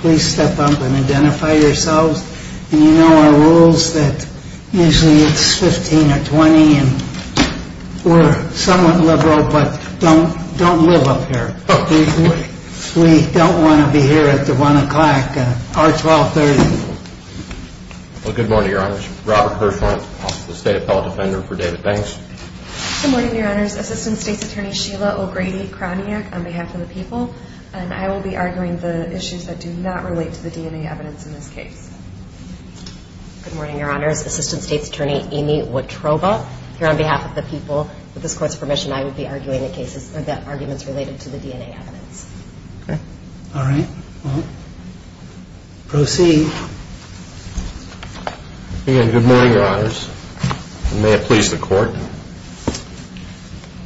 Please step up and identify yourselves. You know our rules that usually it's 15 or 20 and we're somewhat liberal but don't live up here. We don't want to be here at the 1 o'clock or 1230. Good morning, your honors. Robert Hirschhorn, State Appellate Defender for David Banks. Good morning, your honors. Assistant State's Attorney Sheila O'Grady-Kroniak on behalf of the people and I will be arguing the issues that do not relate to the DNA evidence in this case. Good morning, your honors. Assistant State's Attorney Amy Wotroba here on behalf of the people. With this court's permission, I will be arguing the arguments related to the DNA evidence. All right. Proceed. Good morning, your honors. May it please the court.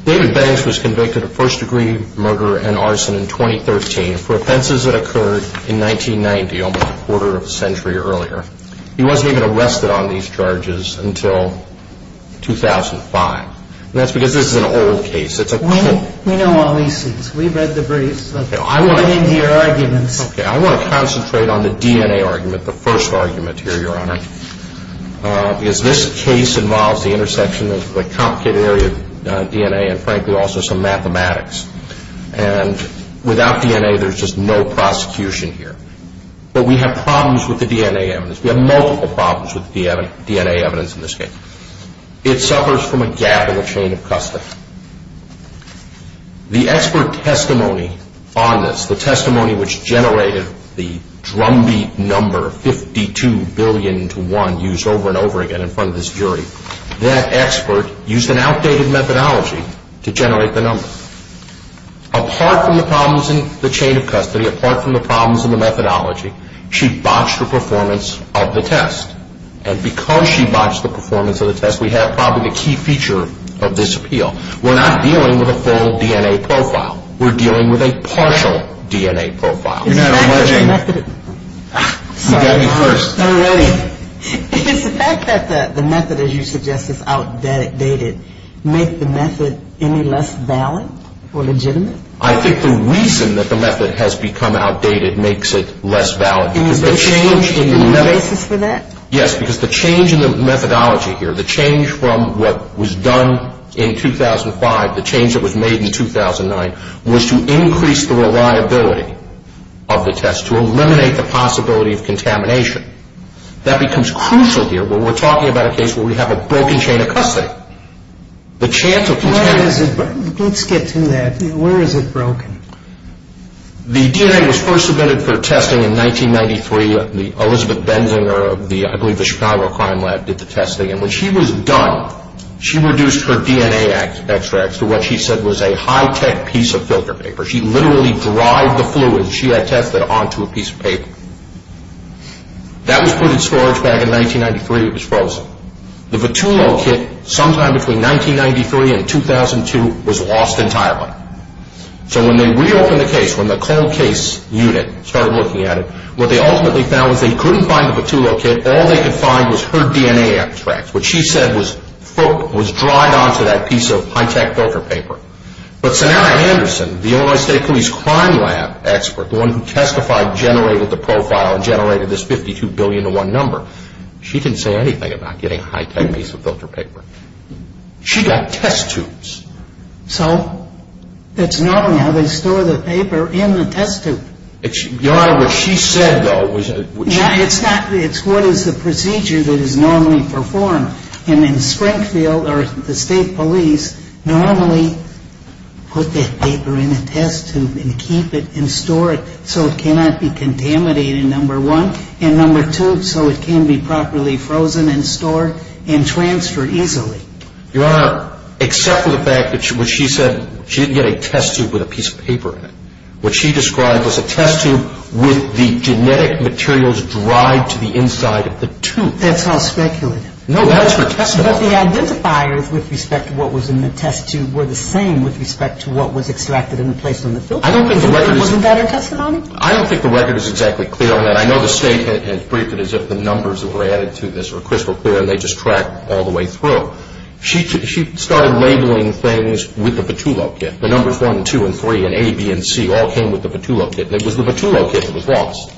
David Banks was convicted of first degree murder and arson in 2013 for offenses that occurred in 1990, almost a quarter of a century earlier. He wasn't even arrested on these charges until 2005. That's because this is an old case. We know all these things. We've read the briefs. Let's get into your arguments. I want to concentrate on the DNA argument, the first argument here, your honor. Because this case involves the intersection of a complicated area of DNA and frankly also some mathematics. And without DNA, there's just no prosecution here. But we have problems with the DNA evidence. We have multiple problems with DNA evidence in this case. It suffers from a gap in the chain of custody. The expert testimony on this, the testimony which generated the drumbeat number 52 billion to one used over and over again in front of this jury, that expert used an outdated methodology to generate the number. Apart from the problems in the chain of custody, apart from the problems in the methodology, she botched the performance of the test. And because she botched the performance of the test, we have probably the key feature of this appeal. We're not dealing with a full DNA profile. We're dealing with a partial DNA profile. You're not alleging. You got me first. Is the fact that the method, as you suggest, is outdated, make the method any less valid or legitimate? I think the reason that the method has become outdated makes it less valid. Is there a basis for that? Yes, because the change in the methodology here, the change from what was done in 2005, the change that was made in 2009, was to increase the reliability of the test, to eliminate the possibility of contamination. That becomes crucial here when we're talking about a case where we have a broken chain of custody. The chance of contamination... Let's get to that. Where is it broken? The DNA was first submitted for testing in 1993. Elizabeth Benzinger of the, I believe, the Chicago Crime Lab did the testing. When she was done, she reduced her DNA extracts to what she said was a high-tech piece of filter paper. She literally dried the fluid she had tested onto a piece of paper. That was put in storage back in 1993. It was frozen. The Vitullo kit, sometime between 1993 and 2002, was lost entirely. So when they reopened the case, when the cold case unit started looking at it, what they ultimately found was they couldn't find the Vitullo kit. All they could find was her DNA extracts. What she said was dried onto that piece of high-tech filter paper. But Sonara Anderson, the Illinois State Police Crime Lab expert, the one who testified, generated the profile and generated this 52 billion to one number. She didn't say anything about getting a high-tech piece of filter paper. She got test tubes. So it's not only how they store the paper in the test tube. Your Honor, what she said, though, was that— Yeah, it's not—it's what is the procedure that is normally performed. And in Springfield, the state police normally put that paper in a test tube and keep it and store it so it cannot be contaminated, number one. And number two, so it can be properly frozen and stored and transferred easily. Your Honor, except for the fact that when she said she didn't get a test tube with a piece of paper in it, what she described was a test tube with the genetic materials dried to the inside of the tube. That's all speculative. No, that's her testimony. But the identifiers with respect to what was in the test tube were the same with respect to what was extracted and placed on the filter. I don't think the record is— Wasn't that her testimony? I don't think the record is exactly clear on that. I know the state has briefed it as if the numbers that were added to this were crystal clear and they just track all the way through. She started labeling things with the Petullo kit. The numbers one, two, and three, and A, B, and C all came with the Petullo kit. It was the Petullo kit that was lost.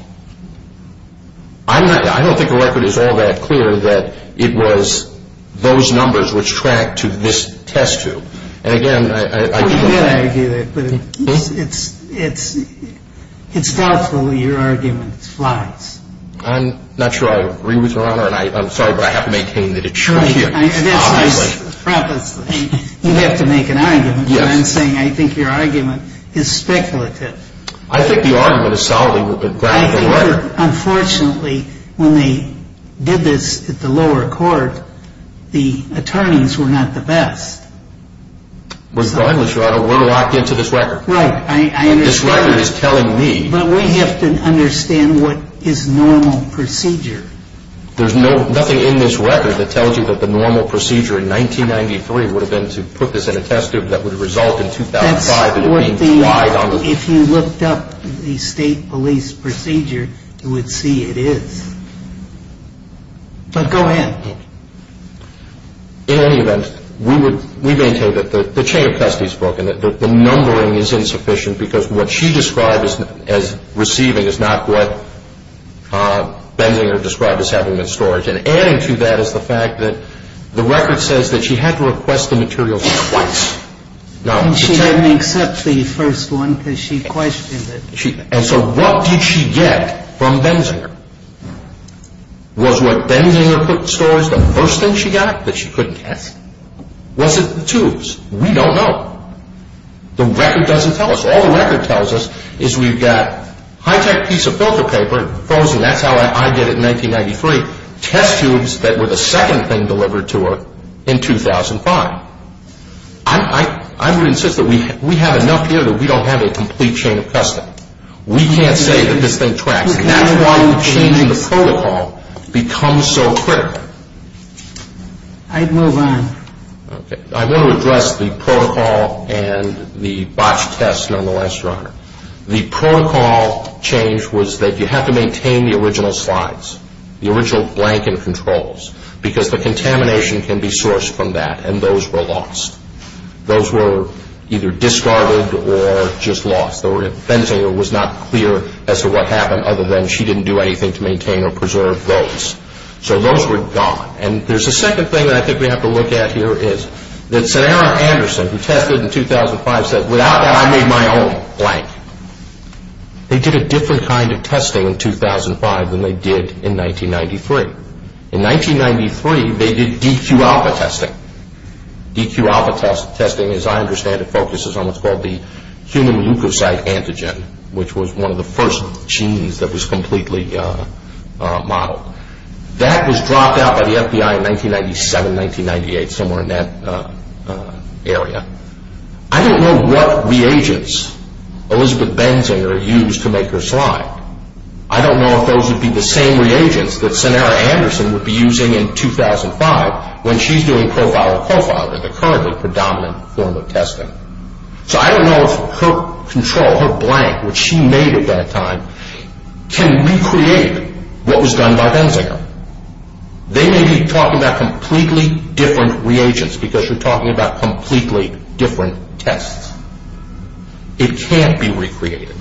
I don't think the record is all that clear that it was those numbers which tracked to this test tube. And again, I— We did argue that, but it's doubtful your argument flies. I'm not sure I agree with you, Your Honor, and I'm sorry, but I have to maintain that it should here. Right. Obviously. You have to make an argument, but I'm saying I think your argument is speculative. I think the argument is solidly grounded in the record. Unfortunately, when they did this at the lower court, the attorneys were not the best. But, Your Honor, we're locked into this record. Right. This record is telling me— But we have to understand what is normal procedure. There's nothing in this record that tells you that the normal procedure in 1993 would have been to put this in a test tube that would have resulted in 2005. If you looked up the state police procedure, you would see it is. But go ahead. In any event, we maintain that the chain of custody is broken, that the numbering is insufficient because what she described as receiving is not what Benzinger described as having been stored. And adding to that is the fact that the record says that she had to request the materials twice. And she didn't accept the first one because she questioned it. And so what did she get from Benzinger? Was what Benzinger put in storage the first thing she got that she couldn't get? Was it the tubes? We don't know. The record doesn't tell us. All the record tells us is we've got high-tech piece of filter paper frozen. That's how I did it in 1993. Test tubes that were the second thing delivered to her in 2005. I would insist that we have enough here that we don't have a complete chain of custody. We can't say that this thing tracks. That's why changing the protocol becomes so critical. I'd move on. I want to address the protocol and the botched test nonetheless, Your Honor. The protocol change was that you have to maintain the original slides, the original blank and controls, because the contamination can be sourced from that, and those were lost. Those were either discarded or just lost. Benzinger was not clear as to what happened other than she didn't do anything to maintain or preserve those. So those were gone. And there's a second thing that I think we have to look at here is that Sarah Anderson, who tested in 2005, said, Without that, I made my own blank. They did a different kind of testing in 2005 than they did in 1993. In 1993, they did DQ-alpha testing. DQ-alpha testing, as I understand it, focuses on what's called the human leukocyte antigen, which was one of the first genes that was completely modeled. That was dropped out by the FBI in 1997, 1998, somewhere in that area. I don't know what reagents Elizabeth Benzinger used to make her slide. I don't know if those would be the same reagents that Sarah Anderson would be using in 2005 when she's doing profile-to-profile, the currently predominant form of testing. So I don't know if her control, her blank, which she made at that time, can recreate what was done by Benzinger. They may be talking about completely different reagents because you're talking about completely different tests. It can't be recreated.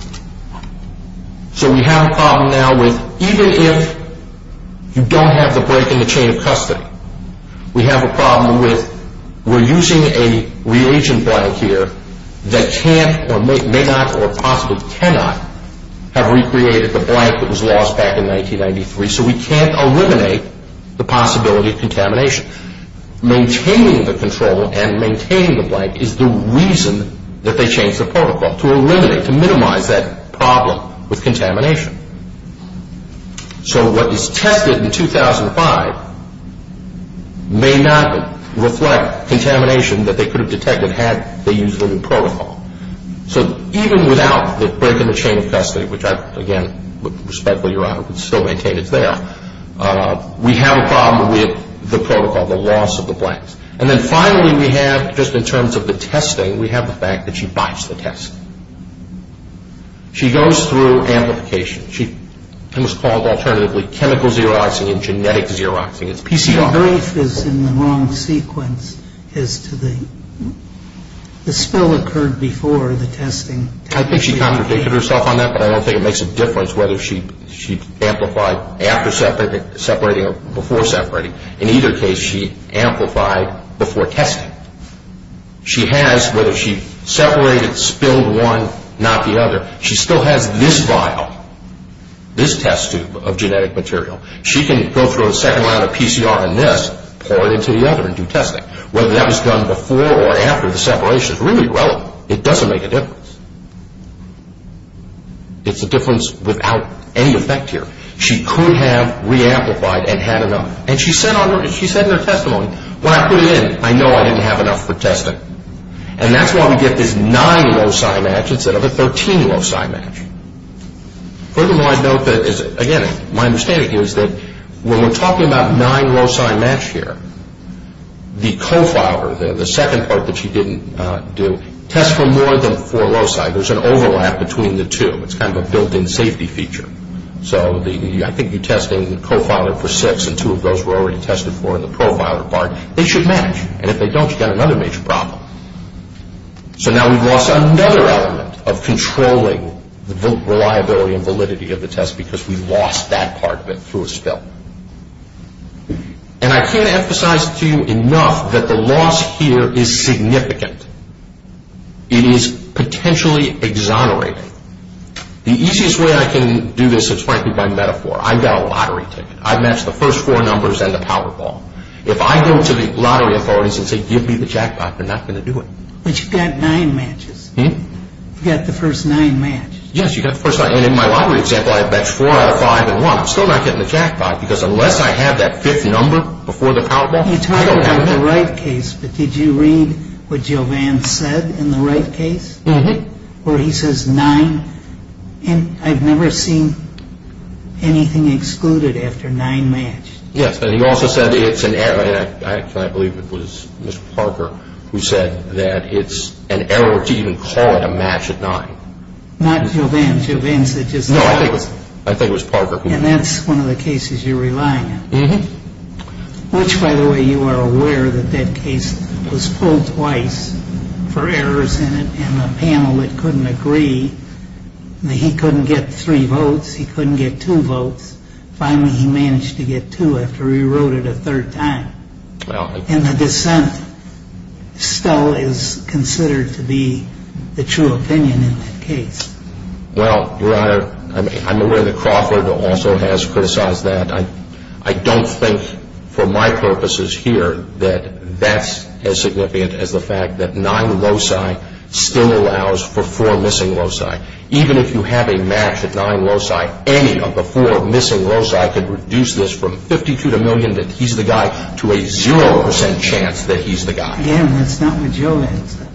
So we have a problem now with even if you don't have the break in the chain of custody, we have a problem with we're using a reagent blank here that can't or may not or possibly cannot have recreated the blank that was lost back in 1993. So we can't eliminate the possibility of contamination. Maintaining the control and maintaining the blank is the reason that they changed the protocol, So what is tested in 2005 may not reflect contamination that they could have detected had they used a new protocol. So even without the break in the chain of custody, which I, again, respectfully, Your Honor, would still maintain it's there, we have a problem with the protocol, the loss of the blanks. And then finally we have, just in terms of the testing, we have the fact that she bites the test. She goes through amplification. It was called alternatively chemical xeroxing and genetic xeroxing. It's PCR. The brief is in the wrong sequence as to the spill occurred before the testing. I think she contradicted herself on that, but I don't think it makes a difference whether she amplified after separating or before separating. In either case, she amplified before testing. She has, whether she separated, spilled one, not the other, she still has this vial, this test tube of genetic material. She can go through a second round of PCR in this, pour it into the other and do testing. Whether that was done before or after the separation is really irrelevant. It doesn't make a difference. It's a difference without any effect here. She could have re-amplified and had another. And she said in her testimony, when I put it in, I know I didn't have enough for testing. And that's why we get this nine loci match instead of a 13 loci match. Furthermore, I note that, again, my understanding here is that when we're talking about nine loci match here, the co-filer, the second part that she didn't do, tests for more than four loci. There's an overlap between the two. It's kind of a built-in safety feature. So I think you're testing the co-filer for six and two of those were already tested for in the pro-filer part. They should match. And if they don't, you've got another major problem. So now we've lost another element of controlling the reliability and validity of the test because we lost that part of it through a spill. And I can't emphasize to you enough that the loss here is significant. It is potentially exonerating. The easiest way I can do this is, frankly, by metaphor. I've got a lottery ticket. I've matched the first four numbers and the Powerball. If I go to the lottery authorities and say, give me the jackpot, they're not going to do it. But you've got nine matches. You've got the first nine matches. Yes, you've got the first nine. And in my lottery example, I have matched four out of five and one. I'm still not getting the jackpot because unless I have that fifth number before the Powerball, I don't have it. You talked about the Wright case, but did you read what Jovan said in the Wright case? Where he says nine. And I've never seen anything excluded after nine matched. Yes, and he also said it's an error. I believe it was Mr. Parker who said that it's an error to even call it a match at nine. Not Jovan. Jovan said just nine. No, I think it was Parker. And that's one of the cases you're relying on. Which, by the way, you are aware that that case was pulled twice for errors in it. And the panel, it couldn't agree that he couldn't get three votes. He couldn't get two votes. Finally, he managed to get two after he wrote it a third time. And the dissent still is considered to be the true opinion in that case. Well, Your Honor, I'm aware that Crawford also has criticized that. And I don't think, for my purposes here, that that's as significant as the fact that nine loci still allows for four missing loci. Even if you have a match at nine loci, any of the four missing loci could reduce this from 52 to a million that he's the guy to a zero percent chance that he's the guy. Yeah, and that's not what Jovan said.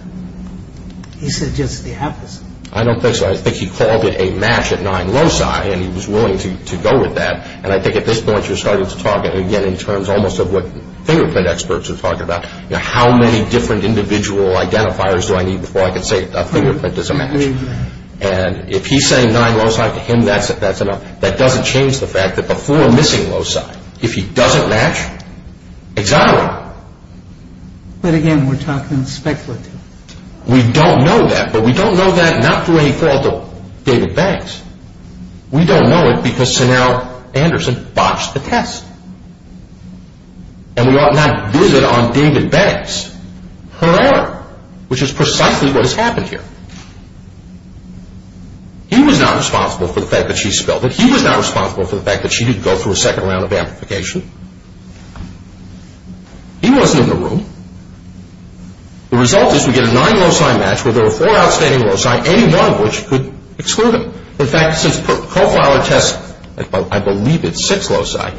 He said just the opposite. I don't think so. I think he called it a match at nine loci, and he was willing to go with that. And I think at this point you're starting to talk, again, in terms almost of what fingerprint experts are talking about. How many different individual identifiers do I need before I can say a fingerprint is a match? And if he's saying nine loci, to him that's enough. That doesn't change the fact that the four missing loci, if he doesn't match, exonerate him. But, again, we're talking speculative. We don't know that, but we don't know that not through any fault of David Banks. We don't know it because Sonal Anderson botched the test, and we ought not visit on David Banks. Hurrah, which is precisely what has happened here. He was not responsible for the fact that she spilled it. He was not responsible for the fact that she didn't go through a second round of amplification. He wasn't in the room. The result is we get a nine loci match where there were four outstanding loci, by any one of which could exclude him. In fact, since profiler tests, I believe it's six loci,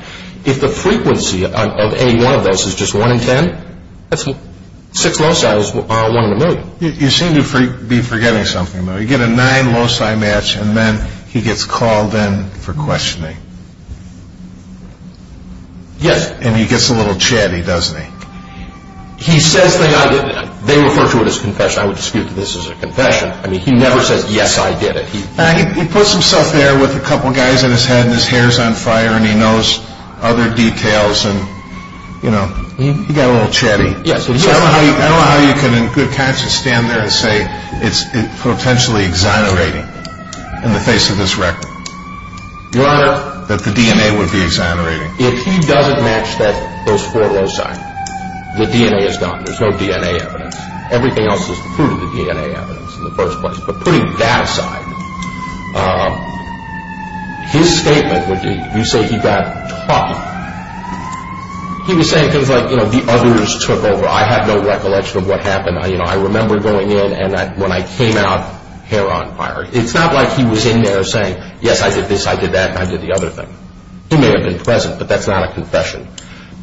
if the frequency of any one of those is just one in ten, six loci is one in a million. You seem to be forgetting something, though. You get a nine loci match, and then he gets called in for questioning. Yes. And he gets a little chatty, doesn't he? He says, they refer to it as confession. I would dispute that this is a confession. I mean, he never says, yes, I did it. He puts himself there with a couple guys on his head and his hair's on fire, and he knows other details, and, you know, he got a little chatty. I don't know how you can in good conscience stand there and say it's potentially exonerating in the face of this record. Your Honor. That the DNA would be exonerating. If he doesn't match those four loci, the DNA is gone. There's no DNA evidence. Everything else is the fruit of the DNA evidence in the first place. But putting that aside, his statement would be, you say he got talky. He was saying things like, you know, the others took over. I have no recollection of what happened. You know, I remember going in, and when I came out, hair on fire. It's not like he was in there saying, yes, I did this, I did that, and I did the other thing. He may have been present, but that's not a confession.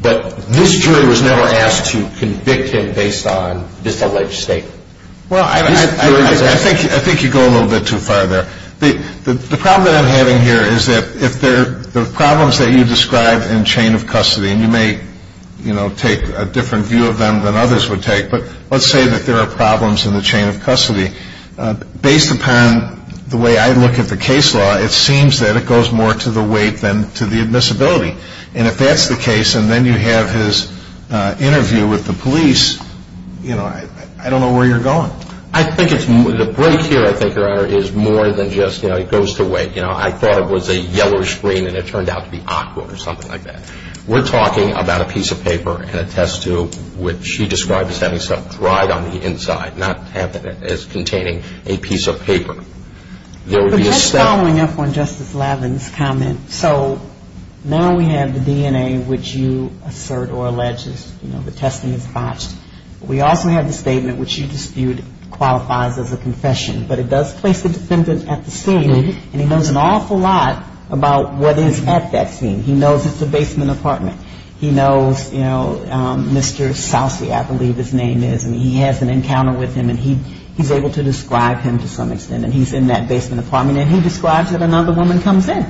But this jury was never asked to convict him based on this alleged statement. Well, I think you go a little bit too far there. The problem that I'm having here is that if there are problems that you describe in chain of custody, and you may, you know, take a different view of them than others would take, but let's say that there are problems in the chain of custody. Based upon the way I look at the case law, it seems that it goes more to the weight than to the admissibility. And if that's the case, and then you have his interview with the police, you know, I don't know where you're going. I think it's the break here, I think, Your Honor, is more than just, you know, it goes to weight. You know, I thought it was a yellow screen, and it turned out to be awkward or something like that. We're talking about a piece of paper and a test tube, which she described as having something dried on the inside, not as containing a piece of paper. But just following up on Justice Lavin's comment, so now we have the DNA, which you assert or allege is, you know, the testing is botched. We also have the statement, which you dispute qualifies as a confession. But it does place the defendant at the scene, and he knows an awful lot about what is at that scene. He knows it's a basement apartment. He knows, you know, Mr. Sousey, I believe his name is, and he has an encounter with him, and he's able to describe him to some extent. And he's in that basement apartment, and he describes that another woman comes in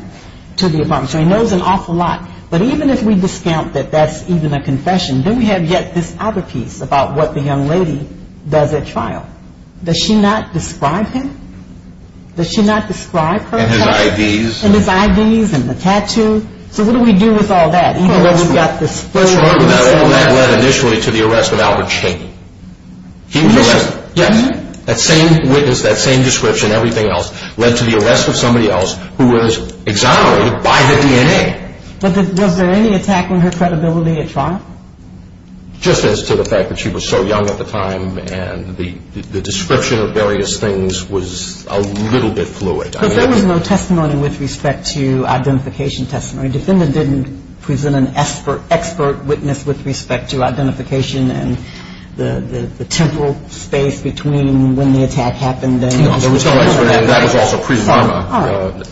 to the apartment. So he knows an awful lot. But even if we discount that that's even a confession, then we have yet this other piece about what the young lady does at trial. Does she not describe him? Does she not describe her? And his IDs. And his IDs and the tattoo. So what do we do with all that, even though we've got this? Well, let's remember that all that led initially to the arrest of Albert Chaney. He was arrested. Yes. That same witness, that same description, everything else, led to the arrest of somebody else who was exonerated by the DNA. But was there any attack on her credibility at trial? Just as to the fact that she was so young at the time, and the description of various things was a little bit fluid. Because there was no testimony with respect to identification testimony. Defendant didn't present an expert witness with respect to identification and the temporal space between when the attack happened and when it happened. That was also pre-Rama. All right.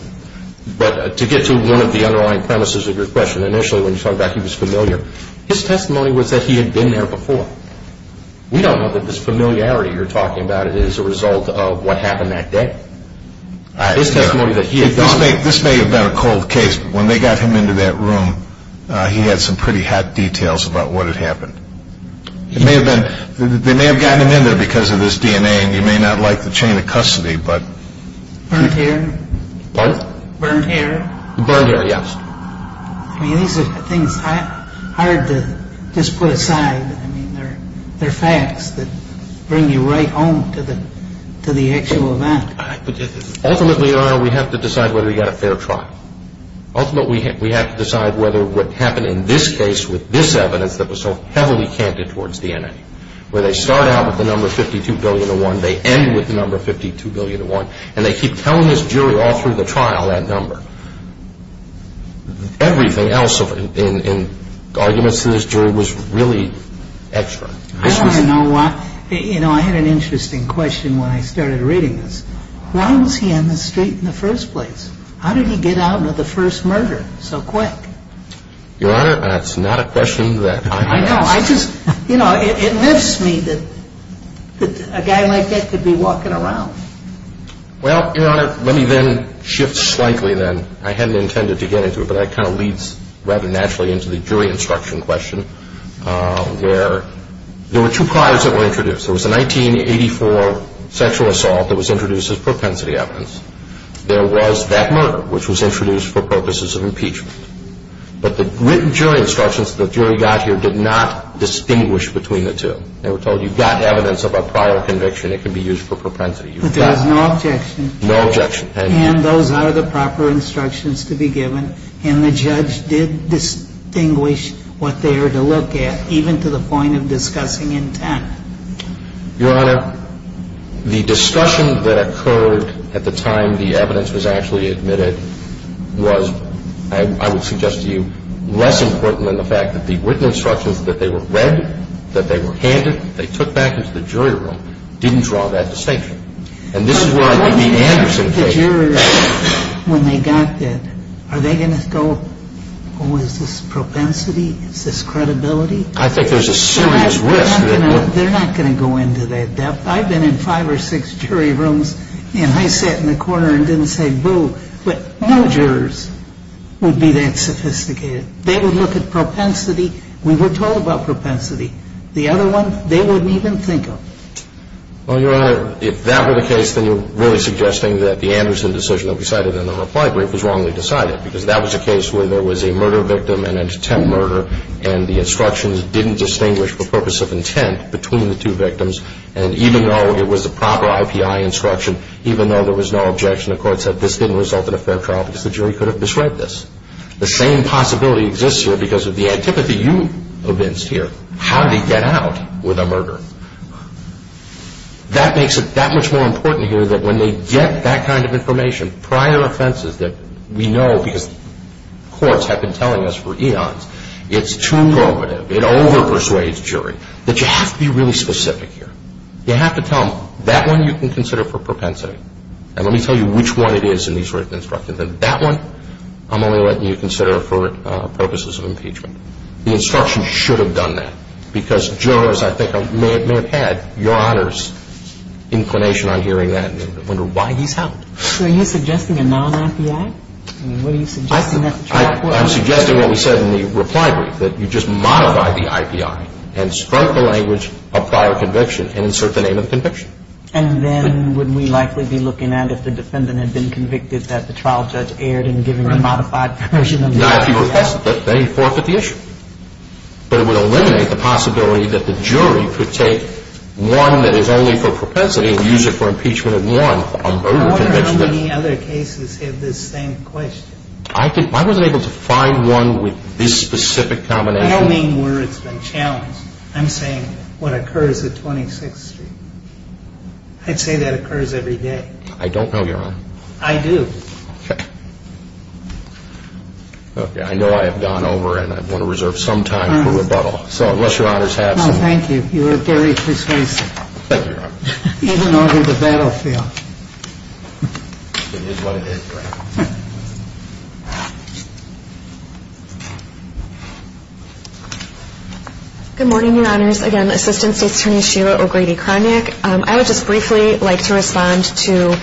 But to get to one of the underlying premises of your question, initially when you talked about he was familiar, his testimony was that he had been there before. We don't know that this familiarity you're talking about is a result of what happened that day. His testimony that he had gone there. This may have been a cold case, but when they got him into that room, he had some pretty hot details about what had happened. They may have gotten him in there because of his DNA, and you may not like the chain of custody, but... Burnt hair. Pardon? Burnt hair. Burnt hair, yes. I mean, these are things hard to just put aside. I mean, they're facts that bring you right home to the actual event. Ultimately, Your Honor, we have to decide whether he got a fair trial. Ultimately, we have to decide whether what happened in this case with this evidence that was so heavily canted towards DNA, where they start out with the number 52,000,001, they end with the number 52,000,001, and they keep telling this jury all through the trial that number. Everything else in arguments to this jury was really extra. I want to know why. You know, I had an interesting question when I started reading this. Why was he on the street in the first place? How did he get out of the first murder so quick? Your Honor, that's not a question that I can answer. I know. I just, you know, it lifts me that a guy like that could be walking around. Well, Your Honor, let me then shift slightly then. I hadn't intended to get into it, but that kind of leads rather naturally into the jury instruction question, where there were two priors that were introduced. There was a 1984 sexual assault that was introduced as propensity evidence. There was that murder, which was introduced for purposes of impeachment. But the written jury instructions that the jury got here did not distinguish between the two. They were told you've got evidence of a prior conviction. It can be used for propensity. But there was no objection. No objection. And those are the proper instructions to be given, and the judge did distinguish what they were to look at, even to the point of discussing intent. Your Honor, the discussion that occurred at the time the evidence was actually admitted was, I would suggest to you, less important than the fact that the written instructions that they were read, that they were handed, they took back into the jury room, didn't draw that distinction. And this is where I think the Anderson case — But what do you think the jurors, when they got that, are they going to go, oh, is this propensity? Is this credibility? I think there's a serious risk that — They're not going to go into that depth. I've been in five or six jury rooms, and I sat in the corner and didn't say boo. But no jurors would be that sophisticated. They would look at propensity. We were told about propensity. The other one, they wouldn't even think of. Well, Your Honor, if that were the case, then you're really suggesting that the Anderson decision that we cited in the reply brief was wrongly decided. Because that was a case where there was a murder victim and an intent murder, and the instructions didn't distinguish the purpose of intent between the two victims. And even though it was a proper IPI instruction, even though there was no objection, the court said this didn't result in a fair trial because the jury could have described this. The same possibility exists here because of the antipathy you evinced here. How did he get out with a murder? That makes it that much more important here that when they get that kind of information, prior offenses that we know because courts have been telling us for eons, it's too probative, it overpersuades jury, that you have to be really specific here. You have to tell them, that one you can consider for propensity. And let me tell you which one it is in these written instructions. And that one I'm only letting you consider for purposes of impeachment. The instructions should have done that because jurors, I think, may have had Your Honor's inclination on hearing that and wonder why he's held. So are you suggesting a non-IPI? I mean, what are you suggesting? I'm suggesting what we said in the reply brief, that you just modify the IPI and strike the language of prior conviction and insert the name of the conviction. And then would we likely be looking at if the defendant had been convicted that the trial judge erred in giving a modified version of the IPI? Not if he requested it. They forfeit the issue. But it would eliminate the possibility that the jury could take one that is only for propensity and use it for impeachment of one on murder conviction. I wonder how many other cases have this same question. I wasn't able to find one with this specific combination. I don't mean where it's been challenged. I'm saying what occurs at 26th Street. I'd say that occurs every day. I don't know, Your Honor. I do. Okay. I know I have gone over and I want to reserve some time for rebuttal. So unless Your Honor has some... No, thank you. You were very persuasive. Even over the battlefield. It is what it is, Your Honor. Good morning, Your Honors. Again, Assistant State's Attorney Sheila O'Grady-Kronick. I would just briefly like to respond to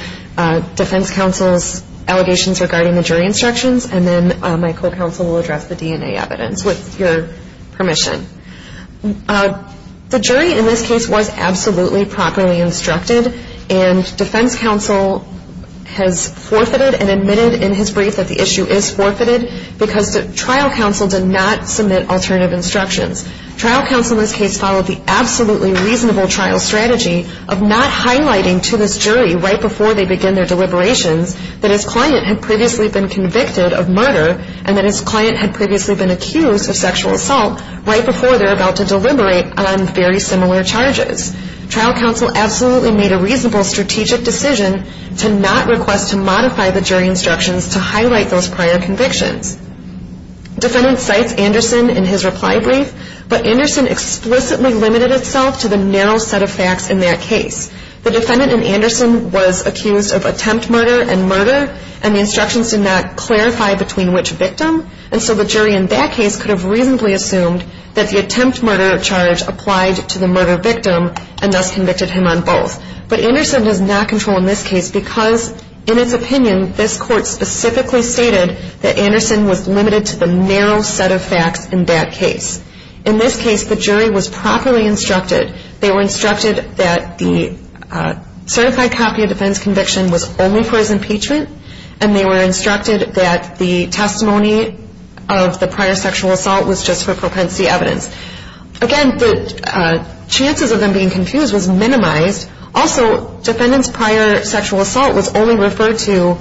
Defense Counsel's allegations regarding the jury instructions and then my co-counsel will address the DNA evidence with your permission. The jury in this case was absolutely properly instructed and Defense Counsel has forfeited and admitted in his brief that the issue is forfeited because the trial counsel did not submit alternative instructions. Trial counsel in this case followed the absolutely reasonable trial strategy of not highlighting to this jury right before they begin their deliberations that his client had previously been convicted of murder and that his client had previously been accused of sexual assault right before they're about to deliberate on very similar charges. Trial counsel absolutely made a reasonable strategic decision to not request to modify the jury instructions to highlight those prior convictions. Defendant cites Anderson in his reply brief, but Anderson explicitly limited itself to the narrow set of facts in that case. The defendant in Anderson was accused of attempt murder and murder and the instructions did not clarify between which victim and so the jury in that case could have reasonably assumed that the attempt murder charge applied to the murder victim and thus convicted him on both. But Anderson does not control in this case because in its opinion, this court specifically stated that Anderson was limited to the narrow set of facts in that case. In this case, the jury was properly instructed. They were instructed that the certified copy of defense conviction was only for his impeachment and they were instructed that the testimony of the prior sexual assault was just for propensity evidence. Again, the chances of them being confused was minimized. Also, defendant's prior sexual assault was only referred to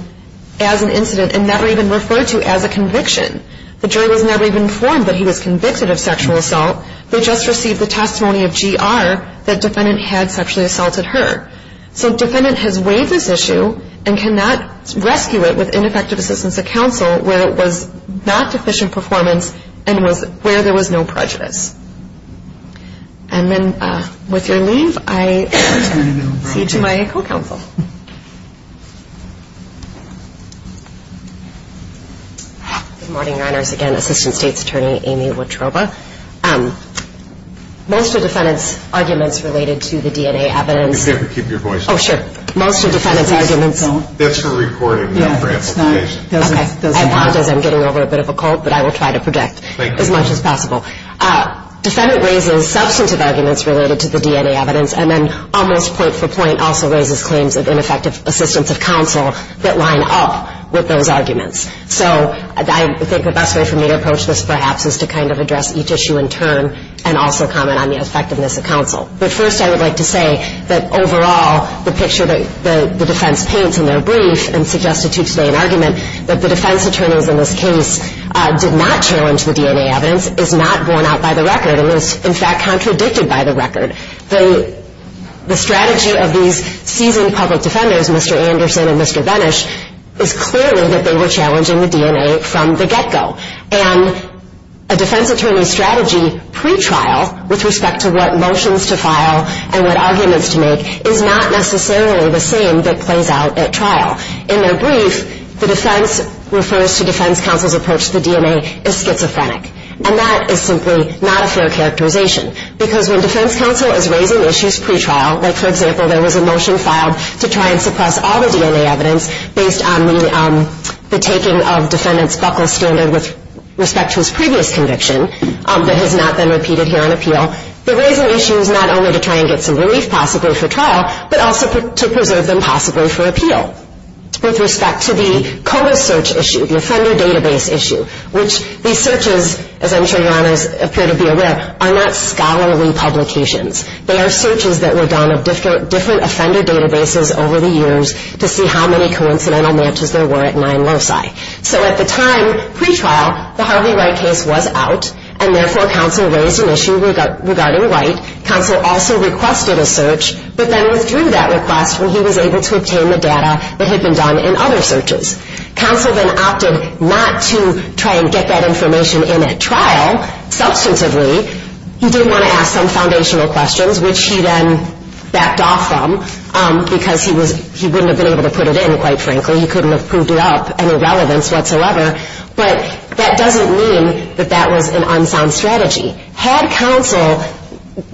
as an incident and never even referred to as a conviction. The jury was never even informed that he was convicted of sexual assault. They just received the testimony of GR that defendant had sexually assaulted her. So defendant has waived this issue and cannot rescue it with ineffective assistance of counsel where it was not deficient performance and where there was no prejudice. And then with your leave, I turn it over to my co-counsel. Good morning, Reiners. Again, Assistant State's Attorney Amy Wotroba. Most of defendant's arguments related to the DNA evidence. If you could keep your voice down. Oh, sure. Most of defendant's arguments. That's for recording, not for amplification. Okay. I won't as I'm getting over a bit of a cold, but I will try to project as much as possible. Defendant raises substantive arguments related to the DNA evidence and then almost point for point also raises claims of ineffective assistance of counsel that line up with those arguments. So I think the best way for me to approach this perhaps is to kind of address each issue in turn and also comment on the effectiveness of counsel. But first I would like to say that overall the picture that the defense paints in their brief and suggested to explain argument that the defense attorneys in this case did not challenge the DNA evidence is not borne out by the record. It was, in fact, contradicted by the record. The strategy of these seasoned public defenders, Mr. Anderson and Mr. Venish, is clearly that they were challenging the DNA from the get-go. And a defense attorney's strategy pre-trial with respect to what motions to file and what arguments to make is not necessarily the same that plays out at trial. In their brief, the defense refers to defense counsel's approach to the DNA as schizophrenic. And that is simply not a fair characterization. Because when defense counsel is raising issues pre-trial, like, for example, there was a motion filed to try and suppress all the DNA evidence based on the taking of defendant's buckle standard with respect to his previous conviction that has not been repeated here on appeal, they're raising issues not only to try and get some relief possibly for trial, but also to preserve them possibly for appeal. With respect to the COBA search issue, the offender database issue, which these searches, as I'm sure your honors appear to be aware, are not scholarly publications. They are searches that were done of different offender databases over the years to see how many coincidental matches there were at nine loci. So at the time, pre-trial, the Harvey Wright case was out, and therefore counsel raised an issue regarding Wright. Counsel also requested a search, but then withdrew that request when he was able to obtain the data that had been done in other searches. Counsel then opted not to try and get that information in at trial substantively. He did want to ask some foundational questions, which he then backed off from, because he wouldn't have been able to put it in, quite frankly. He couldn't have proved it up, any relevance whatsoever. But that doesn't mean that that was an unsound strategy. Had counsel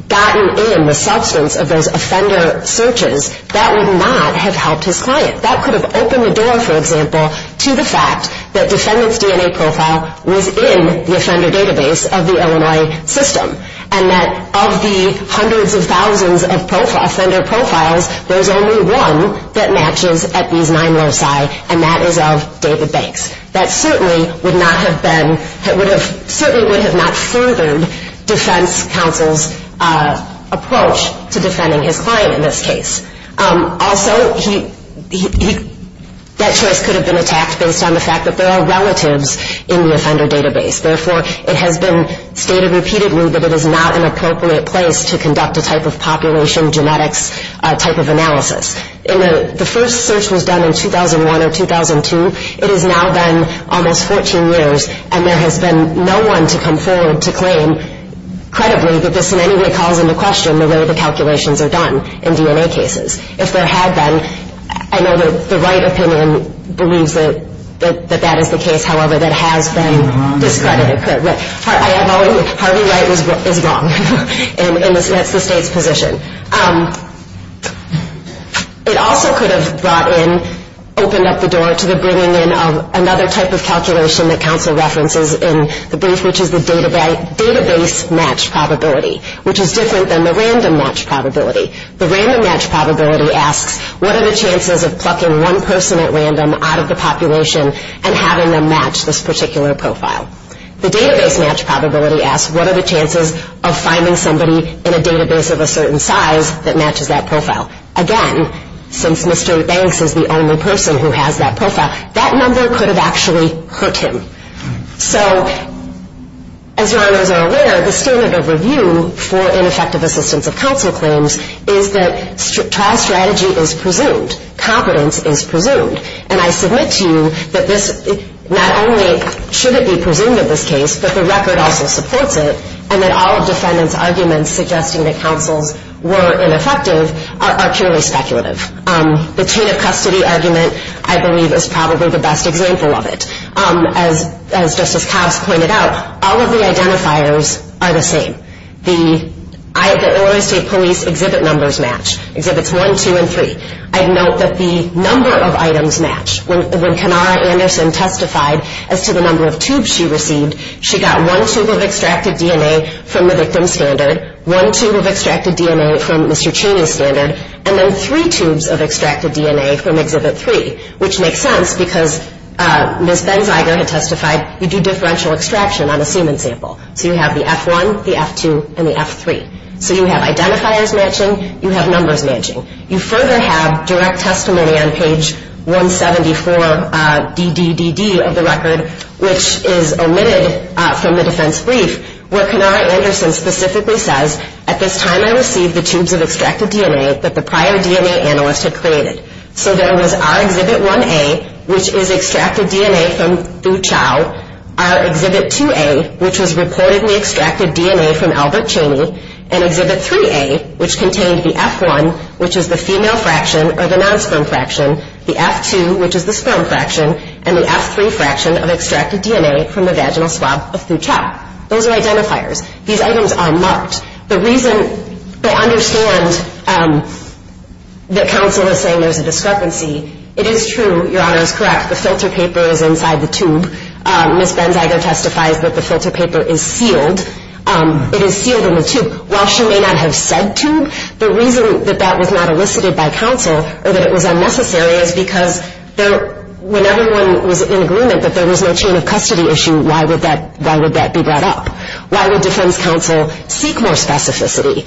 gotten in the substance of those offender searches, that would not have helped his client. That could have opened the door, for example, to the fact that defendant's DNA profile was in the offender database of the Illinois system and that of the hundreds of thousands of offender profiles, there's only one that matches at these nine loci, and that is of David Banks. That certainly would have not furthered defense counsel's approach to defending his client in this case. Also, that choice could have been attacked based on the fact that there are relatives in the offender database. Therefore, it has been stated repeatedly that it is not an appropriate place to conduct a type of population genetics type of analysis. The first search was done in 2001 or 2002. It has now been almost 14 years, and there has been no one to come forward to claim, credibly, that this in any way calls into question the way the calculations are done in DNA cases. If there had been, I know that the Wright opinion believes that that is the case, however, that has been discredited. Harvey Wright is wrong, and that's the state's position. It also could have brought in, opened up the door to the bringing in of another type of calculation that counsel references in the brief, which is the database match probability, which is different than the random match probability. The random match probability asks, what are the chances of plucking one person at random out of the population and having them match this particular profile? The database match probability asks, what are the chances of finding somebody in a database of a certain size that matches that profile? Again, since Mr. Banks is the only person who has that profile, that number could have actually hurt him. So, as you all are aware, the standard of review for ineffective assistance of counsel claims is that trial strategy is presumed. Competence is presumed. And I submit to you that this, not only should it be presumed in this case, but the record also supports it, and that all defendants' arguments suggesting that counsels were ineffective are purely speculative. The chain of custody argument, I believe, is probably the best example of it. As Justice Cox pointed out, all of the identifiers are the same. The Illinois State Police exhibit numbers match. Exhibits 1, 2, and 3. I'd note that the number of items match. When Kenara Anderson testified as to the number of tubes she received, she got one tube of extracted DNA from the victim's standard, one tube of extracted DNA from Mr. Cheney's standard, and then three tubes of extracted DNA from exhibit 3, which makes sense because Ms. Benziger had testified, you do differential extraction on a semen sample. So you have the F1, the F2, and the F3. So you have identifiers matching, you have numbers matching. You further have direct testimony on page 174DDDD of the record, which is omitted from the defense brief, where Kenara Anderson specifically says, at this time I received the tubes of extracted DNA that the prior DNA analyst had created. So there was our exhibit 1A, which is extracted DNA from Thu Chau, our exhibit 2A, which was reportedly extracted DNA from Albert Cheney, and exhibit 3A, which contained the F1, which is the female fraction or the non-sperm fraction, the F2, which is the sperm fraction, and the F3 fraction of extracted DNA from the vaginal swab of Thu Chau. Those are identifiers. These items are marked. The reason they understand that counsel is saying there's a discrepancy, it is true, Your Honor is correct, the filter paper is inside the tube. Ms. Benziger testifies that the filter paper is sealed. It is sealed in the tube. While she may not have said tube, the reason that that was not elicited by counsel or that it was unnecessary is because when everyone was in agreement that there was no chain of custody issue, why would that be brought up? Why would defense counsel seek more specificity?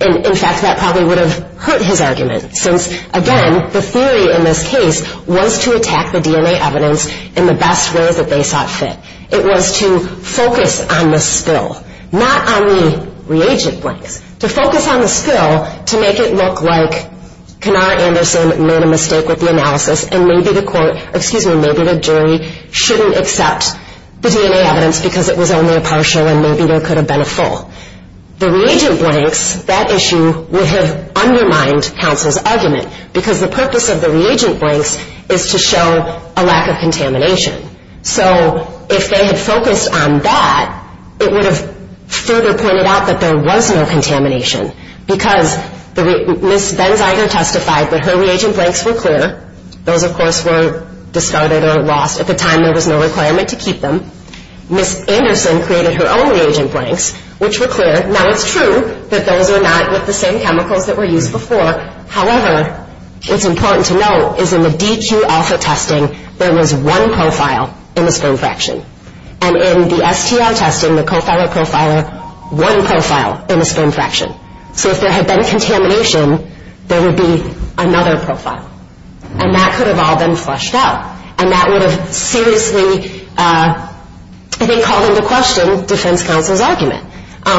In fact, that probably would have hurt his argument, since, again, the theory in this case was to attack the DNA evidence in the best way that they saw fit. It was to focus on the spill, not on the reagent blanks. To focus on the spill to make it look like Kanar Anderson made a mistake with the analysis and maybe the jury shouldn't accept the DNA evidence because it was only a partial and maybe there could have been a full. The reagent blanks, that issue, would have undermined counsel's argument because the purpose of the reagent blanks is to show a lack of contamination. So if they had focused on that, it would have further pointed out that there was no contamination because Ms. Benziger testified that her reagent blanks were clear. Those, of course, were discarded or lost. At the time, there was no requirement to keep them. Ms. Anderson created her own reagent blanks, which were clear. Now, it's true that those were not with the same chemicals that were used before. However, it's important to note is in the DQ alpha testing, there was one profile in the sperm fraction. And in the STR testing, the profiler-profiler, one profile in the sperm fraction. So if there had been contamination, there would be another profile. And that could have all been flushed out. And that would have seriously, I think, called into question defense counsel's argument.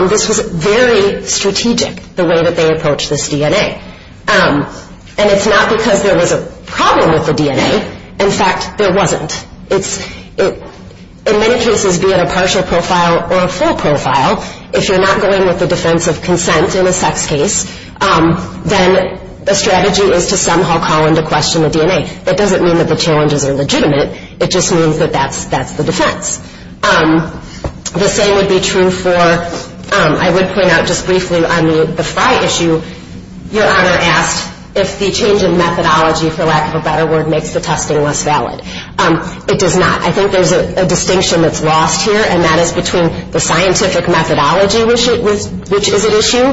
This was very strategic, the way that they approached this DNA. And it's not because there was a problem with the DNA. In fact, there wasn't. In many cases, be it a partial profile or a full profile, if you're not going with the defense of consent in a sex case, then the strategy is to somehow call into question the DNA. That doesn't mean that the challenges are legitimate. It just means that that's the defense. The same would be true for, I would point out just briefly on the Fry issue, Your Honor asked if the change in methodology, for lack of a better word, makes the testing less valid. It does not. I think there's a distinction that's lost here, and that is between the scientific methodology, which is at issue,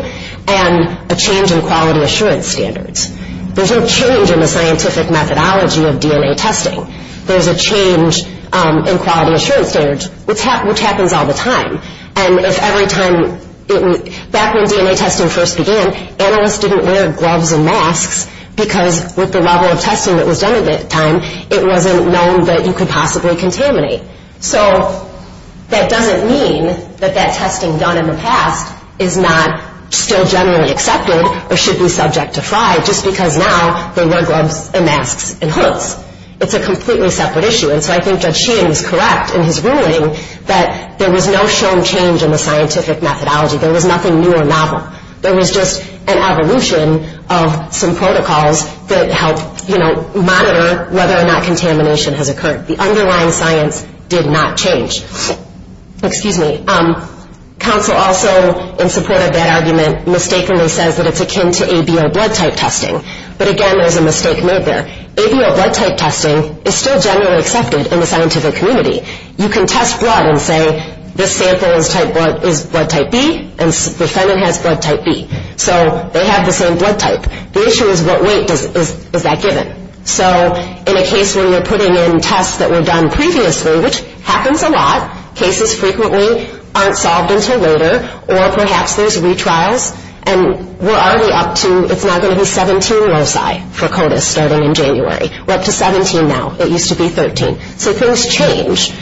and a change in quality assurance standards. There's no change in the scientific methodology of DNA testing. There's a change in quality assurance standards, which happens all the time. And if every time, back when DNA testing first began, analysts didn't wear gloves and masks because with the level of testing that was done at that time, it wasn't known that you could possibly contaminate. So that doesn't mean that that testing done in the past is not still generally accepted or should be subject to Fry, just because now they wear gloves and masks and hoods. It's a completely separate issue. And so I think Judge Sheehan is correct in his ruling that there was no shown change in the scientific methodology. There was nothing new or novel. There was just an evolution of some protocols that helped, you know, monitor whether or not contamination has occurred. The underlying science did not change. Excuse me. Counsel also, in support of that argument, mistakenly says that it's akin to ABO blood type testing. But again, there's a mistake made there. ABO blood type testing is still generally accepted in the scientific community. You can test blood and say this sample is blood type B and the defendant has blood type B. So they have the same blood type. The issue is what weight is that given. So in a case where you're putting in tests that were done previously, which happens a lot, cases frequently aren't solved until later, or perhaps there's retrials, and we're already up to, it's now going to be 17 loci for CODIS starting in January. We're up to 17 now. It used to be 13. So things change.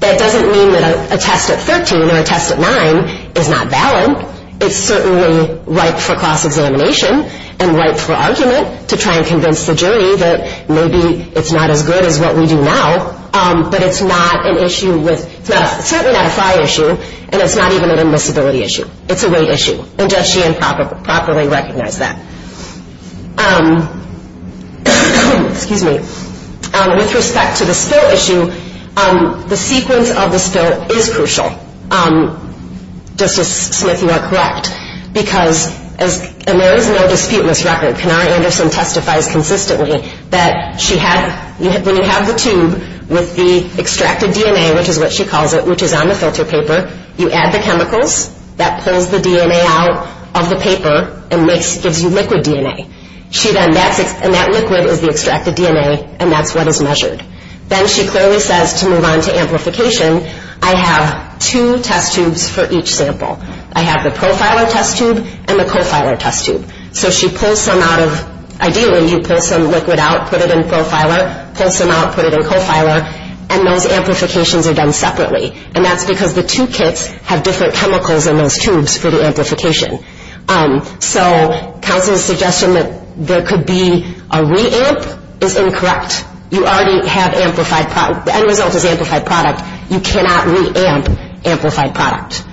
That doesn't mean that a test at 13 or a test at 9 is not valid. It's certainly ripe for cross-examination and ripe for argument to try and convince the jury that maybe it's not as good as what we do now, but it's not an issue with, it's certainly not a fry issue, and it's not even an admissibility issue. It's a weight issue, and does she improperly recognize that? With respect to the spill issue, the sequence of the spill is crucial, Justice Smith, you are correct, because there is no dispute in this record. Kenara Anderson testifies consistently that when you have the tube with the extracted DNA, which is what she calls it, which is on the filter paper, you add the chemicals. That pulls the DNA out of the paper and gives you liquid DNA, and that liquid is the extracted DNA, and that's what is measured. Then she clearly says to move on to amplification, I have two test tubes for each sample. I have the profiler test tube and the co-filer test tube. So she pulls some out of, ideally you pull some liquid out, put it in profiler, pulls some out, put it in co-filer, and those amplifications are done separately, and that's because the two kits have different chemicals in those tubes for the amplification. So counsel's suggestion that there could be a re-amp is incorrect. You already have amplified, the end result is amplified product. You cannot re-amp amplified product.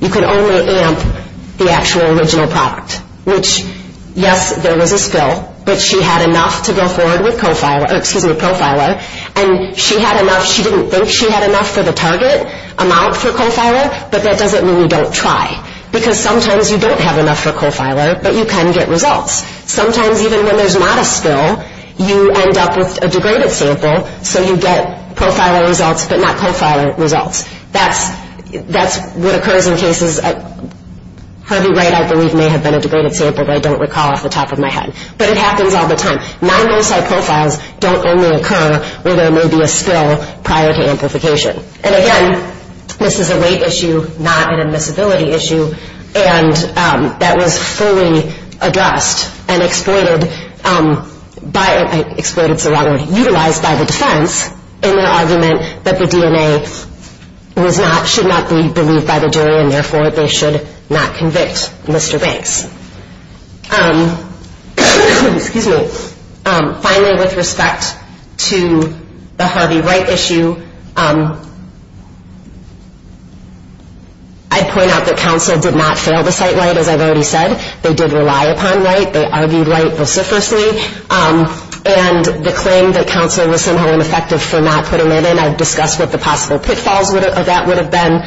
You can only amp the actual original product, which, yes, there was a spill, but she had enough to go forward with co-filer, excuse me, profiler, and she had enough, she didn't think she had enough for the target amount for co-filer, but that doesn't mean you don't try, because sometimes you don't have enough for co-filer, but you can get results. Sometimes even when there's not a spill, you end up with a degraded sample, so you get profiler results but not co-filer results. That's what occurs in cases, Harvey Wright, I believe, may have been a degraded sample, I don't recall off the top of my head, but it happens all the time. Non-molecule profiles don't only occur where there may be a spill prior to amplification. And again, this is a weight issue, not an admissibility issue, and that was fully addressed and exploited by, exploited so rather utilized by the defense in their argument that the DNA was not, should not be believed by the jury and therefore they should not convict Mr. Banks. Excuse me. Finally, with respect to the Harvey Wright issue, I'd point out that counsel did not fail to cite Wright, as I've already said. They did rely upon Wright, they argued Wright vociferously, and the claim that counsel was somehow ineffective for not putting it in, I've discussed what the possible pitfalls of that would have been,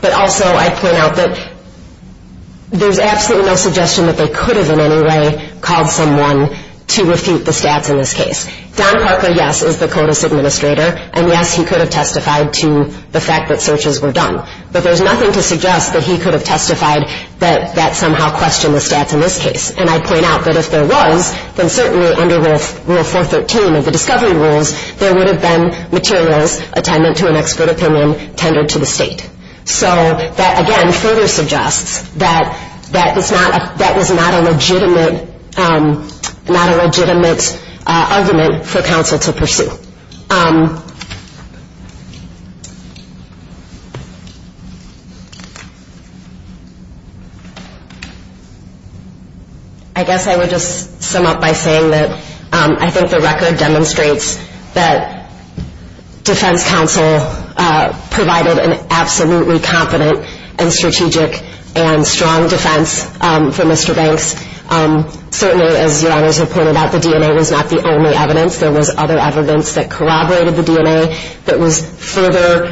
but also I'd point out that there's absolutely no suggestion that they could have in any way called someone to refute the stats in this case. Don Parker, yes, is the CODIS administrator, and yes, he could have testified to the fact that searches were done, but there's nothing to suggest that he could have testified that that somehow questioned the stats in this case. And I'd point out that if there was, then certainly under Rule 413 of the Discovery Rules, there would have been materials, attendant to an expert opinion, tendered to the state. So that again further suggests that that is not a legitimate argument for counsel to pursue. I guess I would just sum up by saying that I think the record demonstrates that defense counsel provided an absolutely competent and strategic and strong defense for Mr. Banks. Certainly, as your honors have pointed out, the DNA was not the only evidence. There was other evidence that corroborated the DNA that was further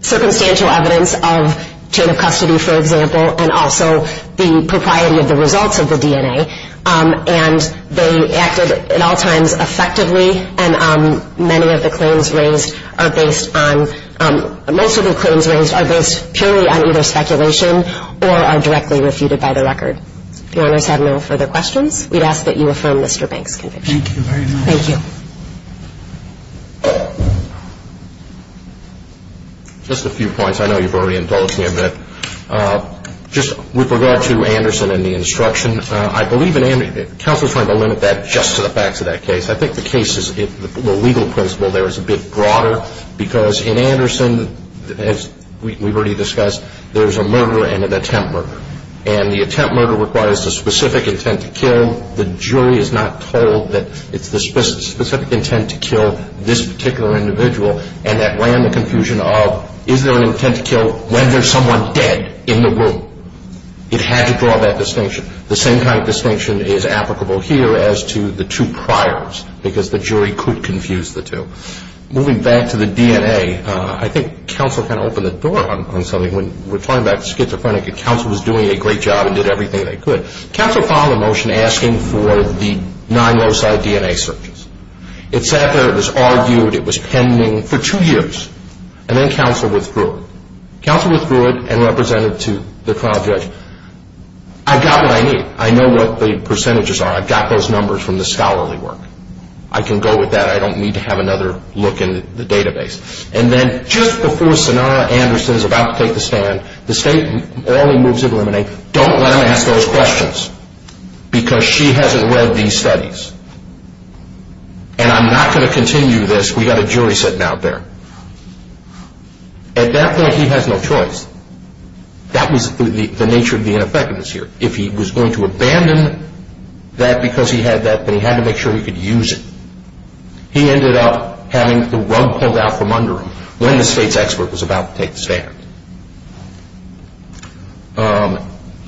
circumstantial evidence of chain of custody, for example, and also the propriety of the results of the DNA. And they acted at all times effectively, and many of the claims raised are based on, most of the claims raised are based purely on either speculation or are directly refuted by the record. If your honors have no further questions, we'd ask that you affirm Mr. Banks' conviction. Thank you very much. Thank you. Just a few points. I know you've already indulged me a bit. Just with regard to Anderson and the instruction, I believe in Anderson, counsel is trying to limit that just to the facts of that case. I think the case is, the legal principle there is a bit broader because in Anderson, as we've already discussed, there's a murder and an attempt murder. And the attempt murder requires a specific intent to kill. The jury is not told that it's the specific intent to kill this particular individual. And that ran the confusion of, is there an intent to kill when there's someone dead in the room? It had to draw that distinction. The same kind of distinction is applicable here as to the two priors because the jury could confuse the two. Moving back to the DNA, I think counsel kind of opened the door on something. When we're talking about schizophrenics, counsel was doing a great job and did everything they could. Counsel filed a motion asking for the nine low-side DNA searches. It sat there. It was argued. It was pending for two years. And then counsel withdrew it. Counsel withdrew it and represented it to the trial judge. I've got what I need. I know what the percentages are. I've got those numbers from the scholarly work. I can go with that. I don't need to have another look in the database. And then just before Sonara Anderson is about to take the stand, the state morally moves to eliminate. Don't let him ask those questions because she hasn't read these studies. And I'm not going to continue this. We've got a jury sitting out there. At that point, he has no choice. That was the nature of the ineffectiveness here. If he was going to abandon that because he had that, then he had to make sure he could use it. He ended up having the rug pulled out from under him when the state's expert was about to take the stand.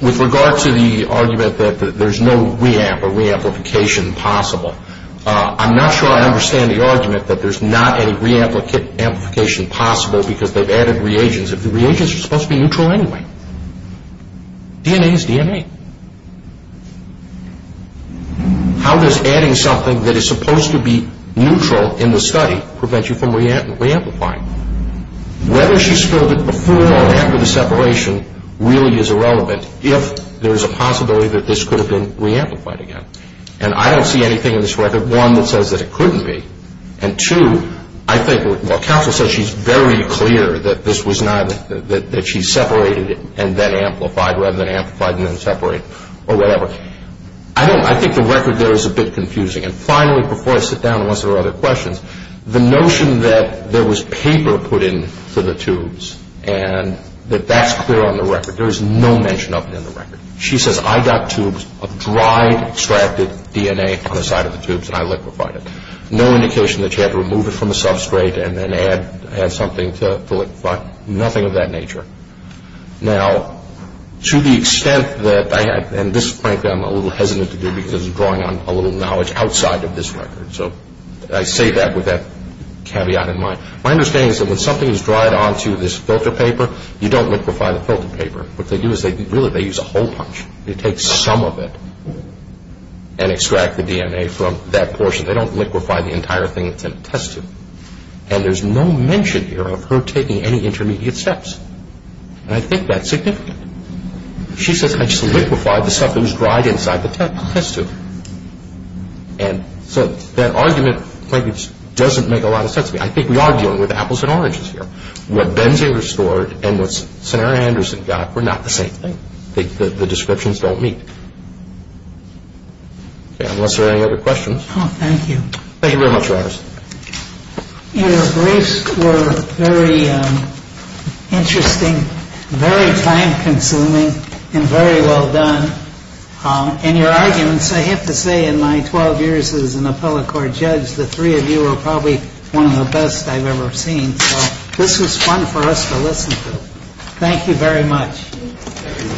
With regard to the argument that there's no re-amp or re-amplification possible, I'm not sure I understand the argument that there's not any re-amplification possible because they've added reagents. The reagents are supposed to be neutral anyway. DNA is DNA. How does adding something that is supposed to be neutral in the study prevent you from re-amplifying? Whether she spilled it before or after the separation really is irrelevant if there's a possibility that this could have been re-amplified again. And I don't see anything in this record, one, that says that it couldn't be, and two, I think what counsel says, she's very clear that this was not, that she separated it and then amplified rather than amplify and then separate or whatever. I think the record there is a bit confusing. And finally, before I sit down and answer other questions, the notion that there was paper put into the tubes and that that's clear on the record, there is no mention of it in the record. She says, I got tubes of dried, extracted DNA on the side of the tubes and I liquefied it. No indication that she had to remove it from the substrate and then add something to liquefy. Nothing of that nature. Now, to the extent that I had, and this frankly I'm a little hesitant to do because it's drawing on a little knowledge outside of this record, so I say that with that caveat in mind. My understanding is that when something is dried onto this filter paper, you don't liquefy the filter paper. What they do is really they use a hole punch. They take some of it and extract the DNA from that portion. They don't liquefy the entire thing that's in the test tube. And there's no mention here of her taking any intermediate steps. And I think that's significant. She says, I just liquefied the stuff that was dried inside the test tube. And so that argument frankly just doesn't make a lot of sense to me. I think we are dealing with apples and oranges here. What Benzie restored and what Senator Anderson got were not the same thing. The descriptions don't meet. Okay, unless there are any other questions. Thank you very much. Thank you. Thank you very much, Rogers. Your briefs were very interesting, very time consuming, and very well done. And your arguments, I have to say in my 12 years as an appellate court judge, the three of you were probably one of the best I've ever seen. So this was fun for us to listen to. Thank you very much.